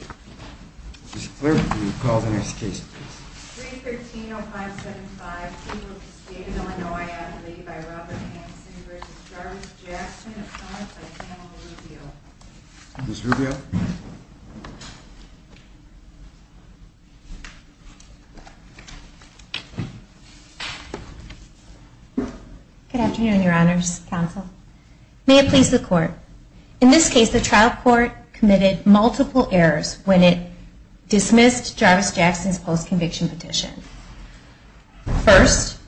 Good afternoon, Your Honors. May it please the Court, in this case the trial court committed multiple errors. When it dismissed Jarvis Jackson's post-conviction petition. First,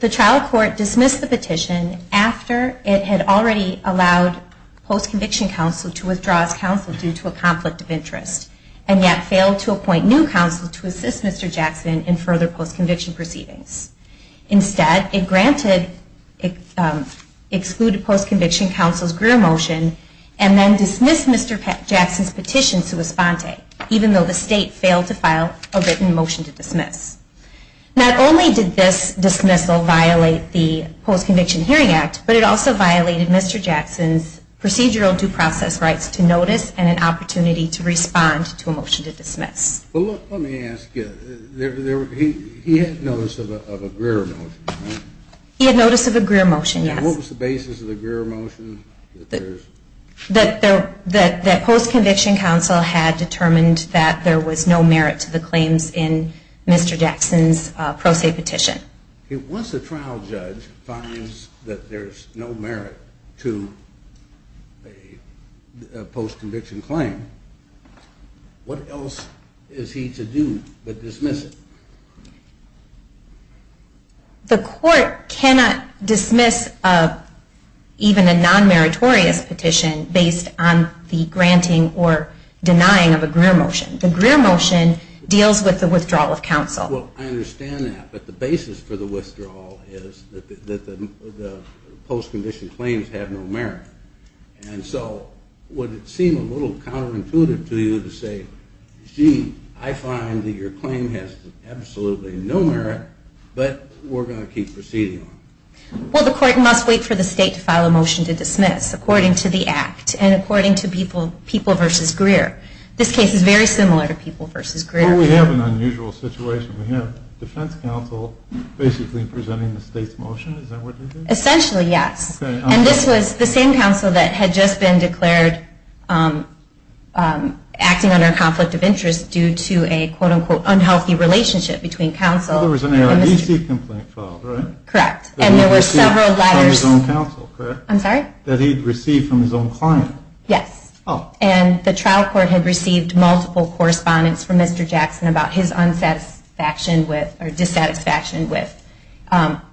the trial court dismissed the petition after it had already allowed post-conviction counsel to withdraw as counsel due to a conflict of interest, and yet failed to appoint new counsel to assist Mr. Jackson in further post-conviction proceedings. Instead, it granted excluded post-conviction counsel's greer motion, and then dismissed Mr. Jackson's petition sui sponte, even though the state failed to file a written motion to dismiss. Not only did this dismissal violate the Post-Conviction Hearing Act, but it also violated Mr. Jackson's procedural due process rights to notice and an opportunity to respond to a motion to dismiss. Well, let me ask you, he had notice of a greer motion, right? He had notice of a greer motion, yes. And what was the basis of the greer motion? That post-conviction counsel had determined that there was no merit to the claims in Mr. Jackson's pro se petition. Once a trial judge finds that there's no merit to a post-conviction claim, what else is he to do but dismiss it? The court cannot dismiss even a non-meritorious petition based on the granting or denying of a greer motion. The greer motion deals with the withdrawal of counsel. Well, I understand that, but the basis for the withdrawal is that the post-conviction claims have no merit. And so, would it seem a little counterintuitive to you to say, gee, I find that your claim has absolutely no merit, but we're going to keep proceeding on it? Well, the court must wait for the state to file a motion to dismiss, according to the act, and according to People v. Greer. This case is very similar to People v. Greer. Well, we have an unusual situation. We have defense counsel basically presenting the state's motion. Is that what they did? Essentially, yes. And this was the same counsel that had just been declared acting under a conflict of interest due to a, quote-unquote, unhealthy relationship between counsel and Mr. Jackson. Well, there was an ARDC complaint filed, right? Correct. And there were several letters. From his own counsel, correct? I'm sorry? That he'd received from his own client. Yes. And the trial court had received multiple correspondence from Mr. Jackson about his dissatisfaction with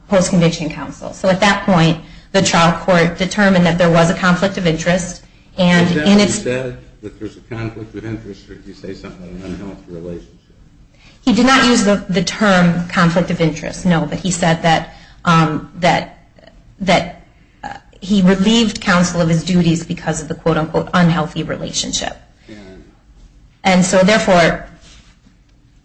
post-conviction counsel. So at that point, the trial court determined that there was a conflict of interest, and in its Did Jackson say that there was a conflict of interest, or did he say something about an unhealthy relationship? He did not use the term conflict of interest, no. But he said that he relieved counsel of his duties because of the, quote-unquote, unhealthy relationship. And so, therefore,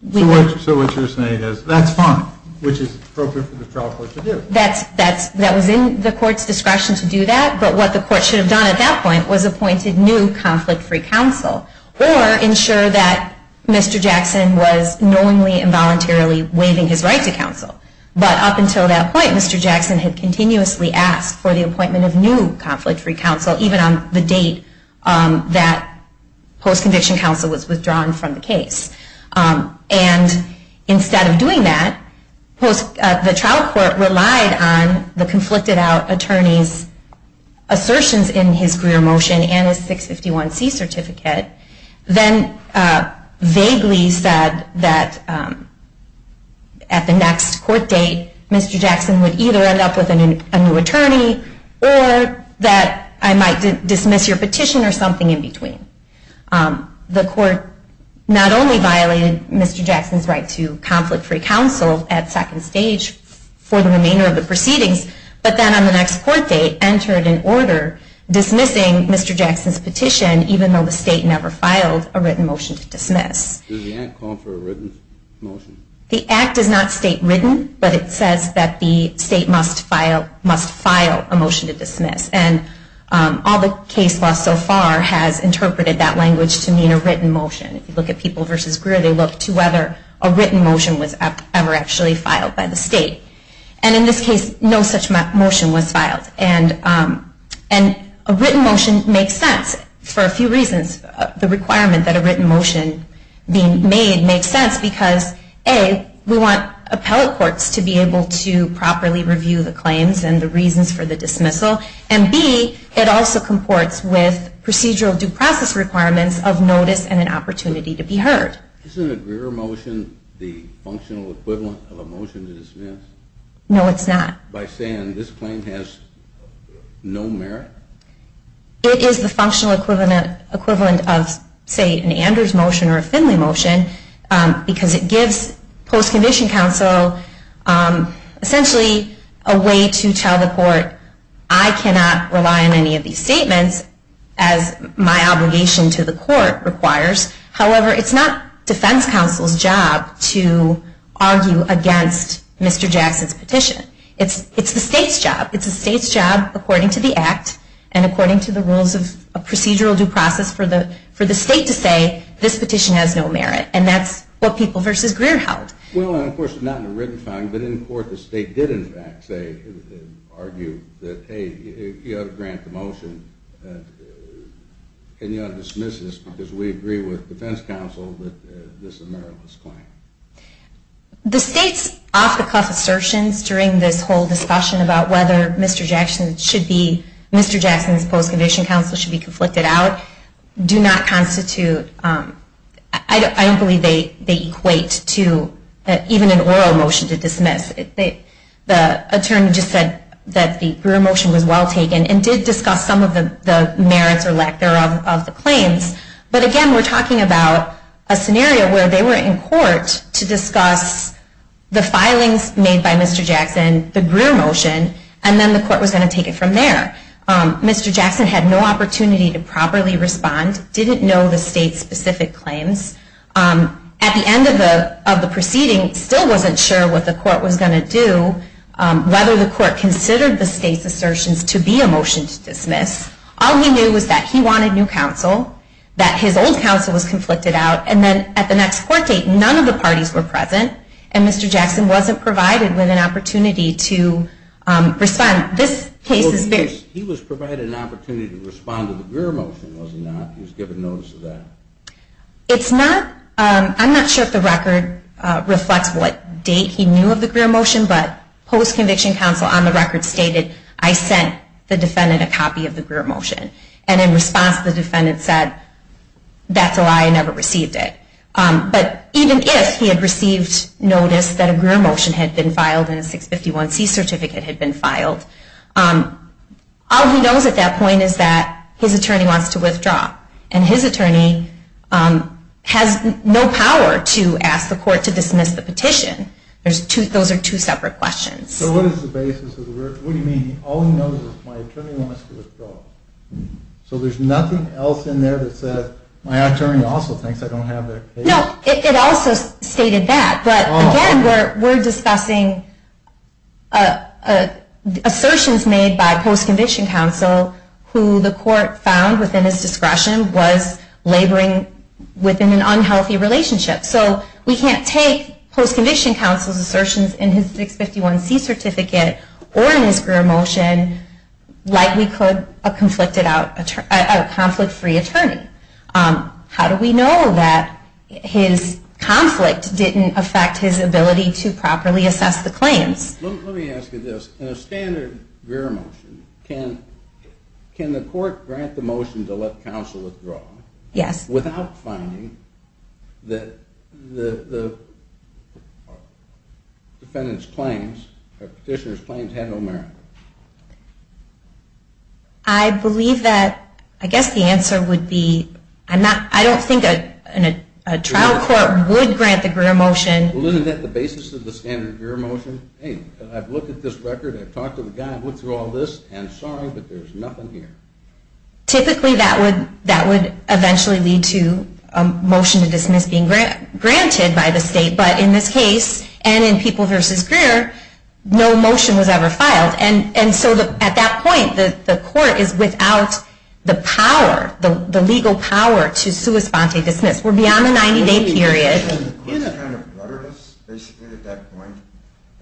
we So what you're saying is, that's fine, which is appropriate for the trial court to do. That was in the court's discretion to do that. But what the court should have done at that point was appointed new conflict-free counsel. Or ensure that Mr. Jackson was knowingly and voluntarily waiving his right to counsel. But up until that point, Mr. Jackson had continuously asked for the appointment of new conflict-free counsel, even on the date that post-conviction counsel was withdrawn from the case. And instead of doing that, the trial court relied on the conflicted-out attorney's assertions in his Greer motion and his 651C certificate. Then vaguely said that at the next court date, Mr. Jackson would either end up with a new attorney, or that I might dismiss your petition or something in between. The court not only violated Mr. Jackson's right to conflict-free counsel at second stage for the remainder of the proceedings, but then on the next court date, entered an order dismissing Mr. Jackson's petition, even though the state never filed a written motion to dismiss. Does the act call for a written motion? The act does not state written, but it says that the state must file a motion to dismiss. And all the case law so far has interpreted that language to mean a written motion. If you look at People v. Greer, they look to whether a written motion was ever actually filed by the state. And in this case, no such motion was filed. And a written motion makes sense for a few reasons. The requirement that a written motion be made makes sense because, A, we want appellate courts to be able to properly review the claims and the reasons for the dismissal, and B, it also comports with procedural due process requirements of notice and an opportunity to be heard. Isn't a Greer motion the functional equivalent of a motion to dismiss? No, it's not. By saying this claim has no merit? It is the functional equivalent of, say, an Anders motion or a Finley motion, because it gives post-condition counsel essentially a way to tell the court, I cannot rely on any of these statements as my obligation to the court requires. However, it's not defense counsel's job to argue against Mr. Jackson's petition. It's the state's job. It's the state's job, according to the act and according to the rules of procedural due process, for the state to say this petition has no merit. And that's what People v. Greer held. Well, and of course not in a written filing, but in court the state did in fact say, argue that, hey, you ought to grant the motion and you ought to dismiss this because we agree with defense counsel that this is a meritless claim. The state's off-the-cuff assertions during this whole discussion about whether Mr. Jackson should be, Mr. Jackson's post-condition counsel should be conflicted out do not constitute, I don't believe they equate to even an oral motion to dismiss. The attorney just said that the Greer motion was well taken and did discuss some of the merits or lack thereof of the claims. But again, we're talking about a scenario where they were in court to discuss the filings made by Mr. Jackson, the Greer motion, and then the court was going to take it from there. Mr. Jackson had no opportunity to properly respond, didn't know the state's specific claims. At the end of the proceeding, still wasn't sure what the court was going to do, whether the court considered the state's assertions to be a motion to dismiss. All he knew was that he wanted new counsel, that his old counsel was conflicted out, and then at the next court date, none of the parties were present, and Mr. Jackson wasn't provided with an opportunity to respond. He was provided an opportunity to respond to the Greer motion, was he not? He was given notice of that. I'm not sure if the record reflects what date he knew of the Greer motion, but post-conviction counsel on the record stated, I sent the defendant a copy of the Greer motion. And in response, the defendant said, that's a lie, I never received it. But even if he had received notice that a Greer motion had been filed and a 651C certificate had been filed, all he knows at that point is that his attorney wants to withdraw. And his attorney has no power to ask the court to dismiss the petition. Those are two separate questions. So what is the basis of the Greer motion? What do you mean, all he knows is my attorney wants to withdraw. So there's nothing else in there that says, my attorney also thinks I don't have that case. No, it also stated that. But again, we're discussing assertions made by post-conviction counsel who the court found within his discretion was laboring within an unhealthy relationship. So we can't take post-conviction counsel's assertions in his 651C certificate or in his Greer motion like we could a conflict-free attorney. How do we know that his conflict didn't affect his ability to properly assess the claims? Let me ask you this. In a standard Greer motion, can the court grant the motion to let counsel withdraw without finding that the defendant's claims or petitioner's claims had no merit? I believe that, I guess the answer would be, I don't think a trial court would grant the Greer motion. Well, isn't that the basis of the standard Greer motion? Hey, I've looked at this record, I've talked to the guy, I've looked through all this, and sorry, but there's nothing here. Typically, that would eventually lead to a motion to dismiss being granted by the state, but in this case, and in People v. Greer, no motion was ever filed. And so at that point, the court is without the power, the legal power, to sua sponte dismiss. We're beyond the 90-day period. Wouldn't the court have kind of bluttered us, basically, at that point,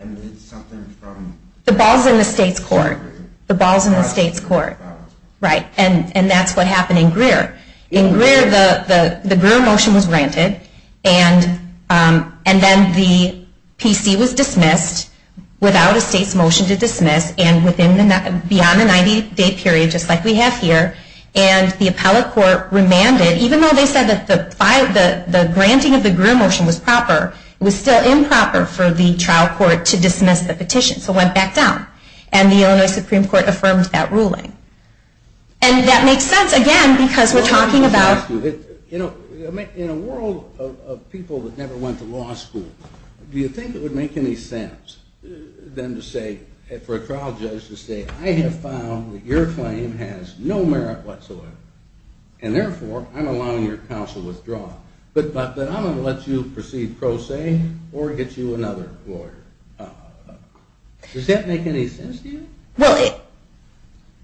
and made something from... The ball's in the state's court. The ball's in the state's court. And that's what happened in Greer. In Greer, the Greer motion was granted, and then the PC was dismissed without a state's motion to dismiss, and beyond the 90-day period, just like we have here, and the appellate court remanded, even though they said that the granting of the Greer motion was proper, it was still improper for the trial court to dismiss the petition, so it went back down. And the Illinois Supreme Court affirmed that ruling. And that makes sense, again, because we're talking about... You know, in a world of people that never went to law school, do you think it would make any sense for a trial judge to say, I have found that your claim has no merit whatsoever, and therefore, I'm allowing your counsel to withdraw. But I'm going to let you proceed pro se, or get you another lawyer. Does that make any sense to you? Well,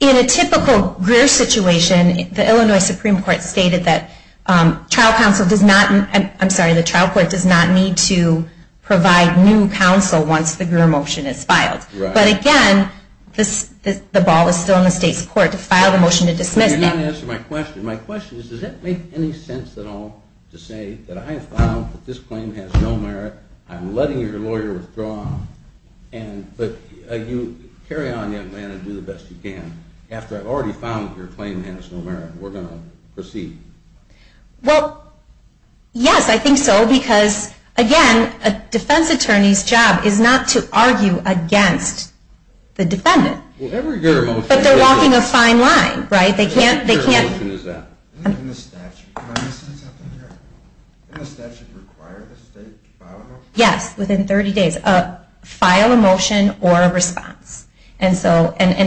in a typical Greer situation, the Illinois Supreme Court stated that trial counsel does not... I'm sorry, the trial court does not need to provide new counsel once the Greer motion is filed. But again, the ball is still in the state's court to file the motion to dismiss. You're not answering my question. My question is, does it make any sense at all to say that I have found that this claim has no merit, I'm letting your lawyer withdraw, but you carry on, young man, and do the best you can. After I've already found that your claim has no merit, we're going to proceed. Well, yes, I think so, because, again, a defense attorney's job is not to argue against the defendant. But they're walking a fine line, right? They can't... When does the statute require the state to file a motion? Yes, within 30 days. File a motion or a response. And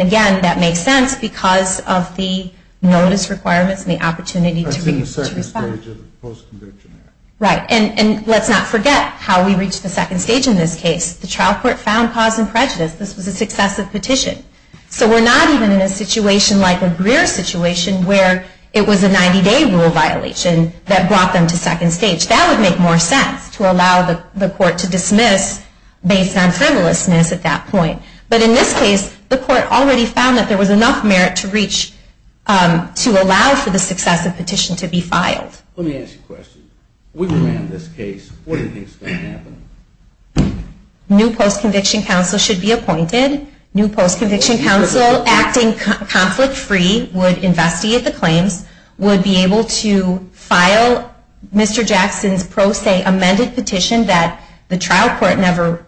again, that makes sense because of the notice requirements and the opportunity to respond. That's in the second stage of the post-conviction act. Right. And let's not forget how we reached the second stage in this case. The trial court found cause and prejudice. This was a successive petition. So we're not even in a situation like a Greer situation where it was a 90-day rule violation that brought them to second stage. That would make more sense, to allow the court to dismiss based on frivolousness at that point. But in this case, the court already found that there was enough merit to allow for the successive petition to be filed. Let me ask you a question. We ran this case. What do you think is going to happen? New post-conviction counsel should be appointed. New post-conviction counsel, acting conflict-free, would investigate the claims, would be able to file Mr. Jackson's pro se amended petition that the trial court never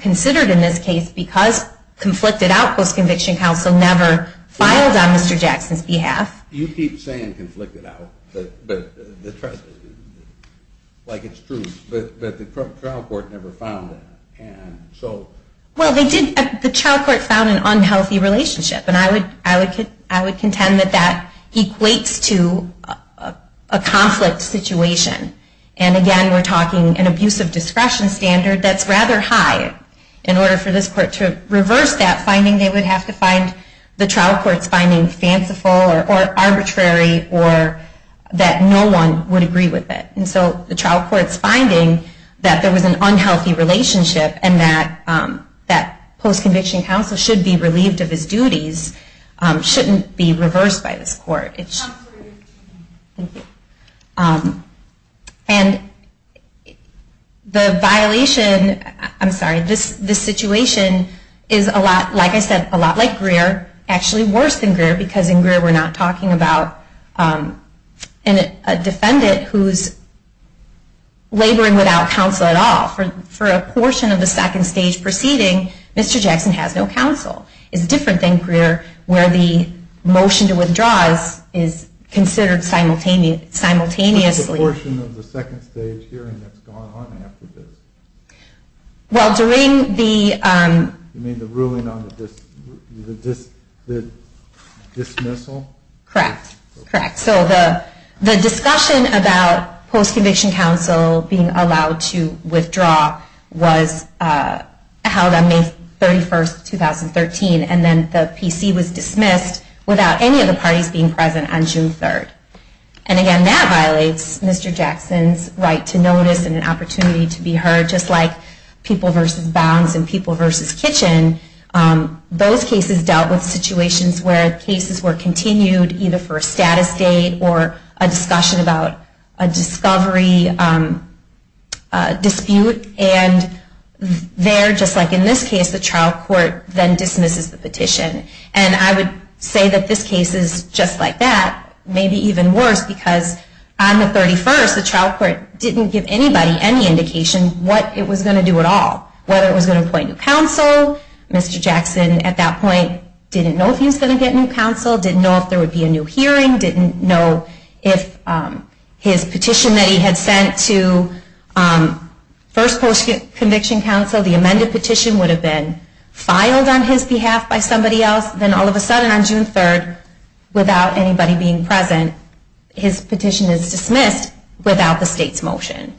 considered in this case because conflicted out post-conviction counsel never filed on Mr. Jackson's behalf. You keep saying conflicted out. But like it's true. But the trial court never found that. Well, the trial court found an unhealthy relationship. And I would contend that that equates to a conflict situation. And again, we're talking an abuse of discretion standard that's rather high. In order for this court to reverse that finding, they would have to find the trial court's finding fanciful or arbitrary or that no one would agree with it. And so the trial court's finding that there was an unhealthy relationship and that post-conviction counsel should be relieved of his duties shouldn't be reversed by this court. Thank you. And the violation, I'm sorry, this situation is a lot, like I said, a lot like Greer, actually worse than Greer because in Greer we're not talking about a defendant who's laboring without counsel at all. For a portion of the second stage proceeding, Mr. Jackson has no counsel. It's different than Greer where the motion to withdraw is considered simultaneously. What's the portion of the second stage hearing that's gone on after this? Well, during the... You mean the ruling on the dismissal? Correct. So the discussion about post-conviction counsel being allowed to withdraw was held on May 31, 2013. And then the PC was dismissed without any of the parties being present on June 3. And again, that violates Mr. Jackson's right to notice and an opportunity to be heard. Just like people versus bounds and people versus kitchen, those cases dealt with situations where cases were continued either for a status date or a discussion about a discovery dispute and there, just like in this case, the trial court then dismisses the petition. And I would say that this case is just like that, maybe even worse, because on the 31st the trial court didn't give anybody any indication what it was going to do at all, whether it was going to appoint new counsel. Mr. Jackson at that point didn't know if he was going to get new counsel, didn't know if there would be a new hearing, didn't know if his petition that he had sent to first post-conviction counsel, the amended petition, would have been filed on his behalf by somebody else. Then all of a sudden on June 3, without anybody being present, his petition is dismissed without the state's motion.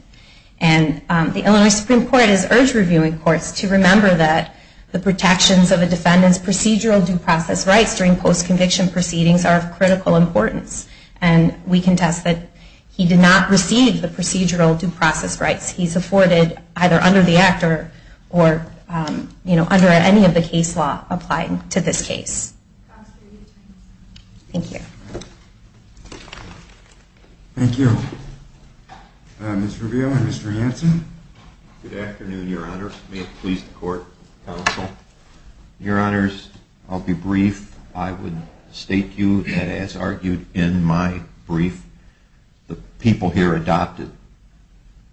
So I think it's important to remember that the protections of a defendant's procedural due process rights during post-conviction proceedings are of critical importance. And we contest that he did not receive the procedural due process rights. He's afforded either under the Act or under any of the case law applying to this case. Thank you. Thank you. Mr. Rivio and Mr. Hanson. Good afternoon, Your Honor. May it please the court, counsel. Your Honors, I'll be brief. I would state to you that as argued in my brief, the people here adopted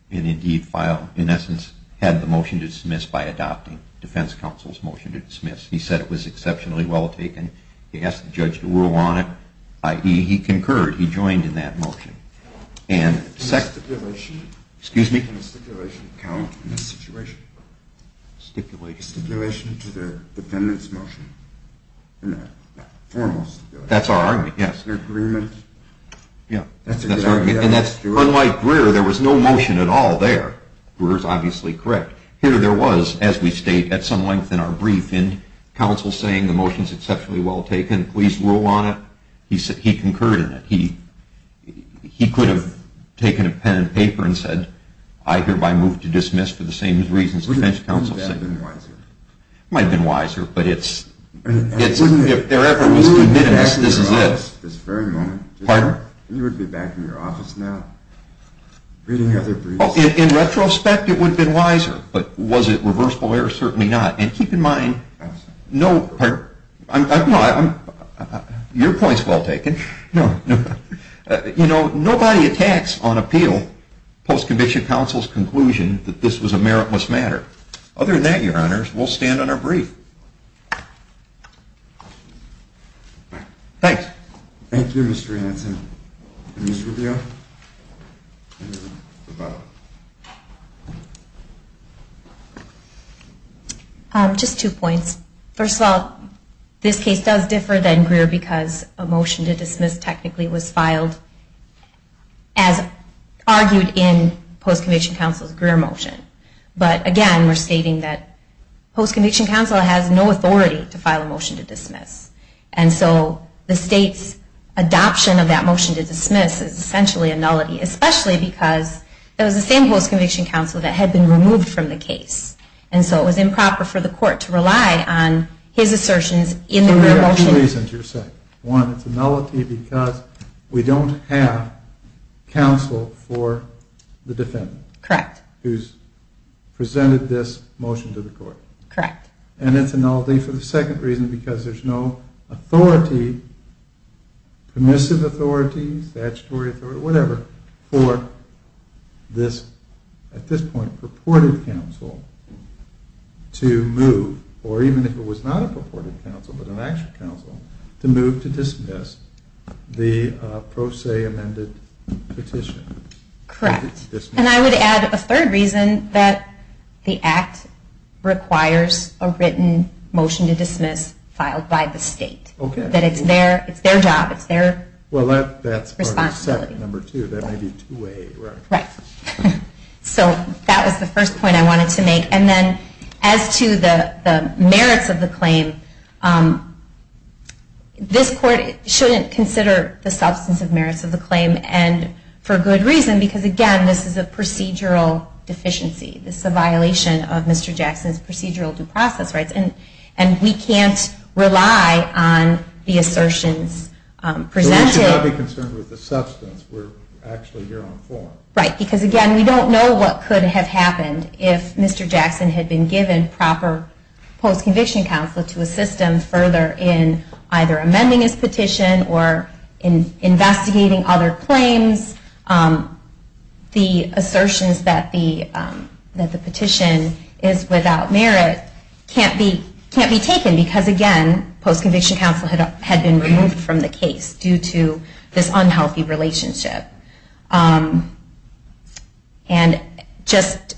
an indeed file, in essence had the motion to dismiss by adopting defense counsel's motion to dismiss. He said it was exceptionally well taken. He asked the judge to rule on it. He concurred. He joined in that motion. Stipulation? Stipulation to the defendant's motion. That's our argument, yes. Unlike Greer, there was no motion at all there. Greer is obviously correct. But here there was, as we state at some length in our brief, counsel saying the motion is exceptionally well taken, please rule on it. He concurred in it. He could have taken a pen and paper and said, I hereby move to dismiss for the same reasons defense counsel said. Wouldn't that have been wiser? It might have been wiser, but if there ever was committedness, this is it. You would be back in your office now reading other briefs. In retrospect, it would have been wiser, but was it reversible error? Certainly not. And keep in mind, your point is well taken. Nobody attacks on appeal post-conviction counsel's conclusion that this was a meritless matter. Other than that, your honors, we'll stand on our brief. Thank you, Mr. Hanson. Ms. Rubio? Just two points. First of all, this case does differ than Greer because a motion to dismiss technically was filed as argued in post-conviction counsel's Greer motion. But again, we're stating that post-conviction counsel has no authority to file a motion to dismiss. And so the state's reason for that motion to dismiss is essentially a nullity, especially because it was the same post-conviction counsel that had been removed from the case. And so it was improper for the court to rely on his assertions in the Greer motion. Two reasons, you're saying. One, it's a nullity because we don't have counsel for the defendant. Correct. Who's presented this motion to the court. Correct. And it's a nullity for the second reason because there's no authority, permissive authority, statutory authority, whatever, for this, at this point, purported counsel to move, or even if it was not a purported counsel but an actual counsel, to move to dismiss the pro se amended petition. Correct. And I would add a third reason, that the Act requires a written motion to dismiss filed by the state. That it's their job, it's their responsibility. Well, that's part of step number two. That may be two-way. So that was the first point I wanted to make. And then as to the merits of the claim, this court shouldn't consider the substance of merits of the claim, and for good reason, because again, this is a procedural deficiency. This is a violation of Mr. Jackson's procedural due process rights. And we can't rely on the assertions presented. So we should not be concerned with the substance. We're actually here on form. Right, because again, we don't know what could have happened if Mr. Jackson had been given proper post-conviction counsel to assist him further in either amending his petition or in investigating other claims. The assertions that the petition is without merit can't be taken, because again, post-conviction counsel had been removed from the case due to this unhealthy relationship. And just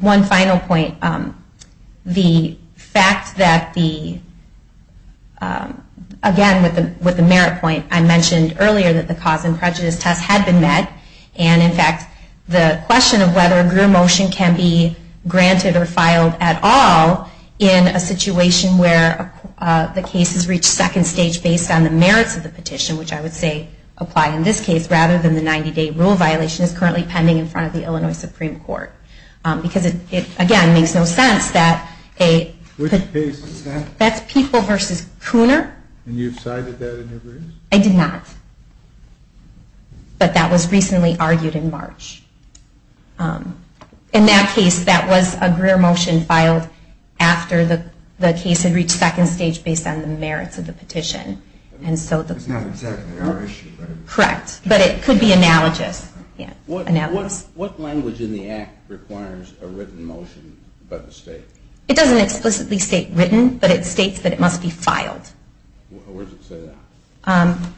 one final point. The fact that the again, with the merit point, I mentioned earlier that the cause and prejudice test had been met. And in fact, the question of whether your motion can be granted or filed at all in a situation where the case has reached second stage based on the merits of the petition, which I would say apply in this case, rather than the 90 day rule violation is currently pending in front of the Illinois Supreme Court. Because it again, makes no sense that a... Which case is that? That's People v. Cooner. And you've cited that in your brief? I did not. But that was recently argued in that case, that was a greer motion filed after the case had reached second stage based on the merits of the petition. It's not exactly our issue, right? Correct. But it could be analogous. What language in the Act requires a written motion by the state? It doesn't explicitly state written, but it states that it must be filed. Where does it say that? Um...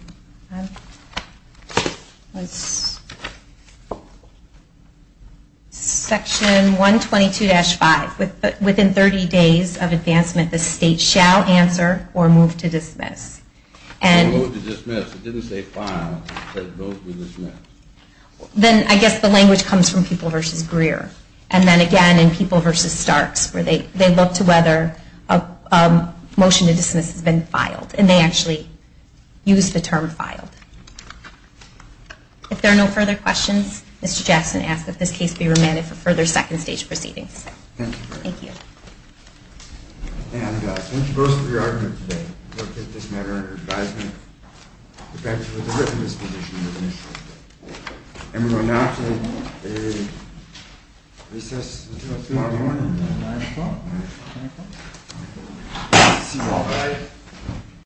Section 122-5 Within 30 days of advancement, the state shall answer or move to dismiss. It didn't say file, it said move to dismiss. Then I guess the language comes from People v. Greer. And then again in People v. Starks where they look to whether a motion to dismiss has been used to term file. If there are no further questions, Mr. Jackson asks that this case be remanded for further second stage proceedings. Thank you. Thank you both for your argument today. Thank you for the written disposition. And we're going now to a recess until tomorrow morning. See you all then.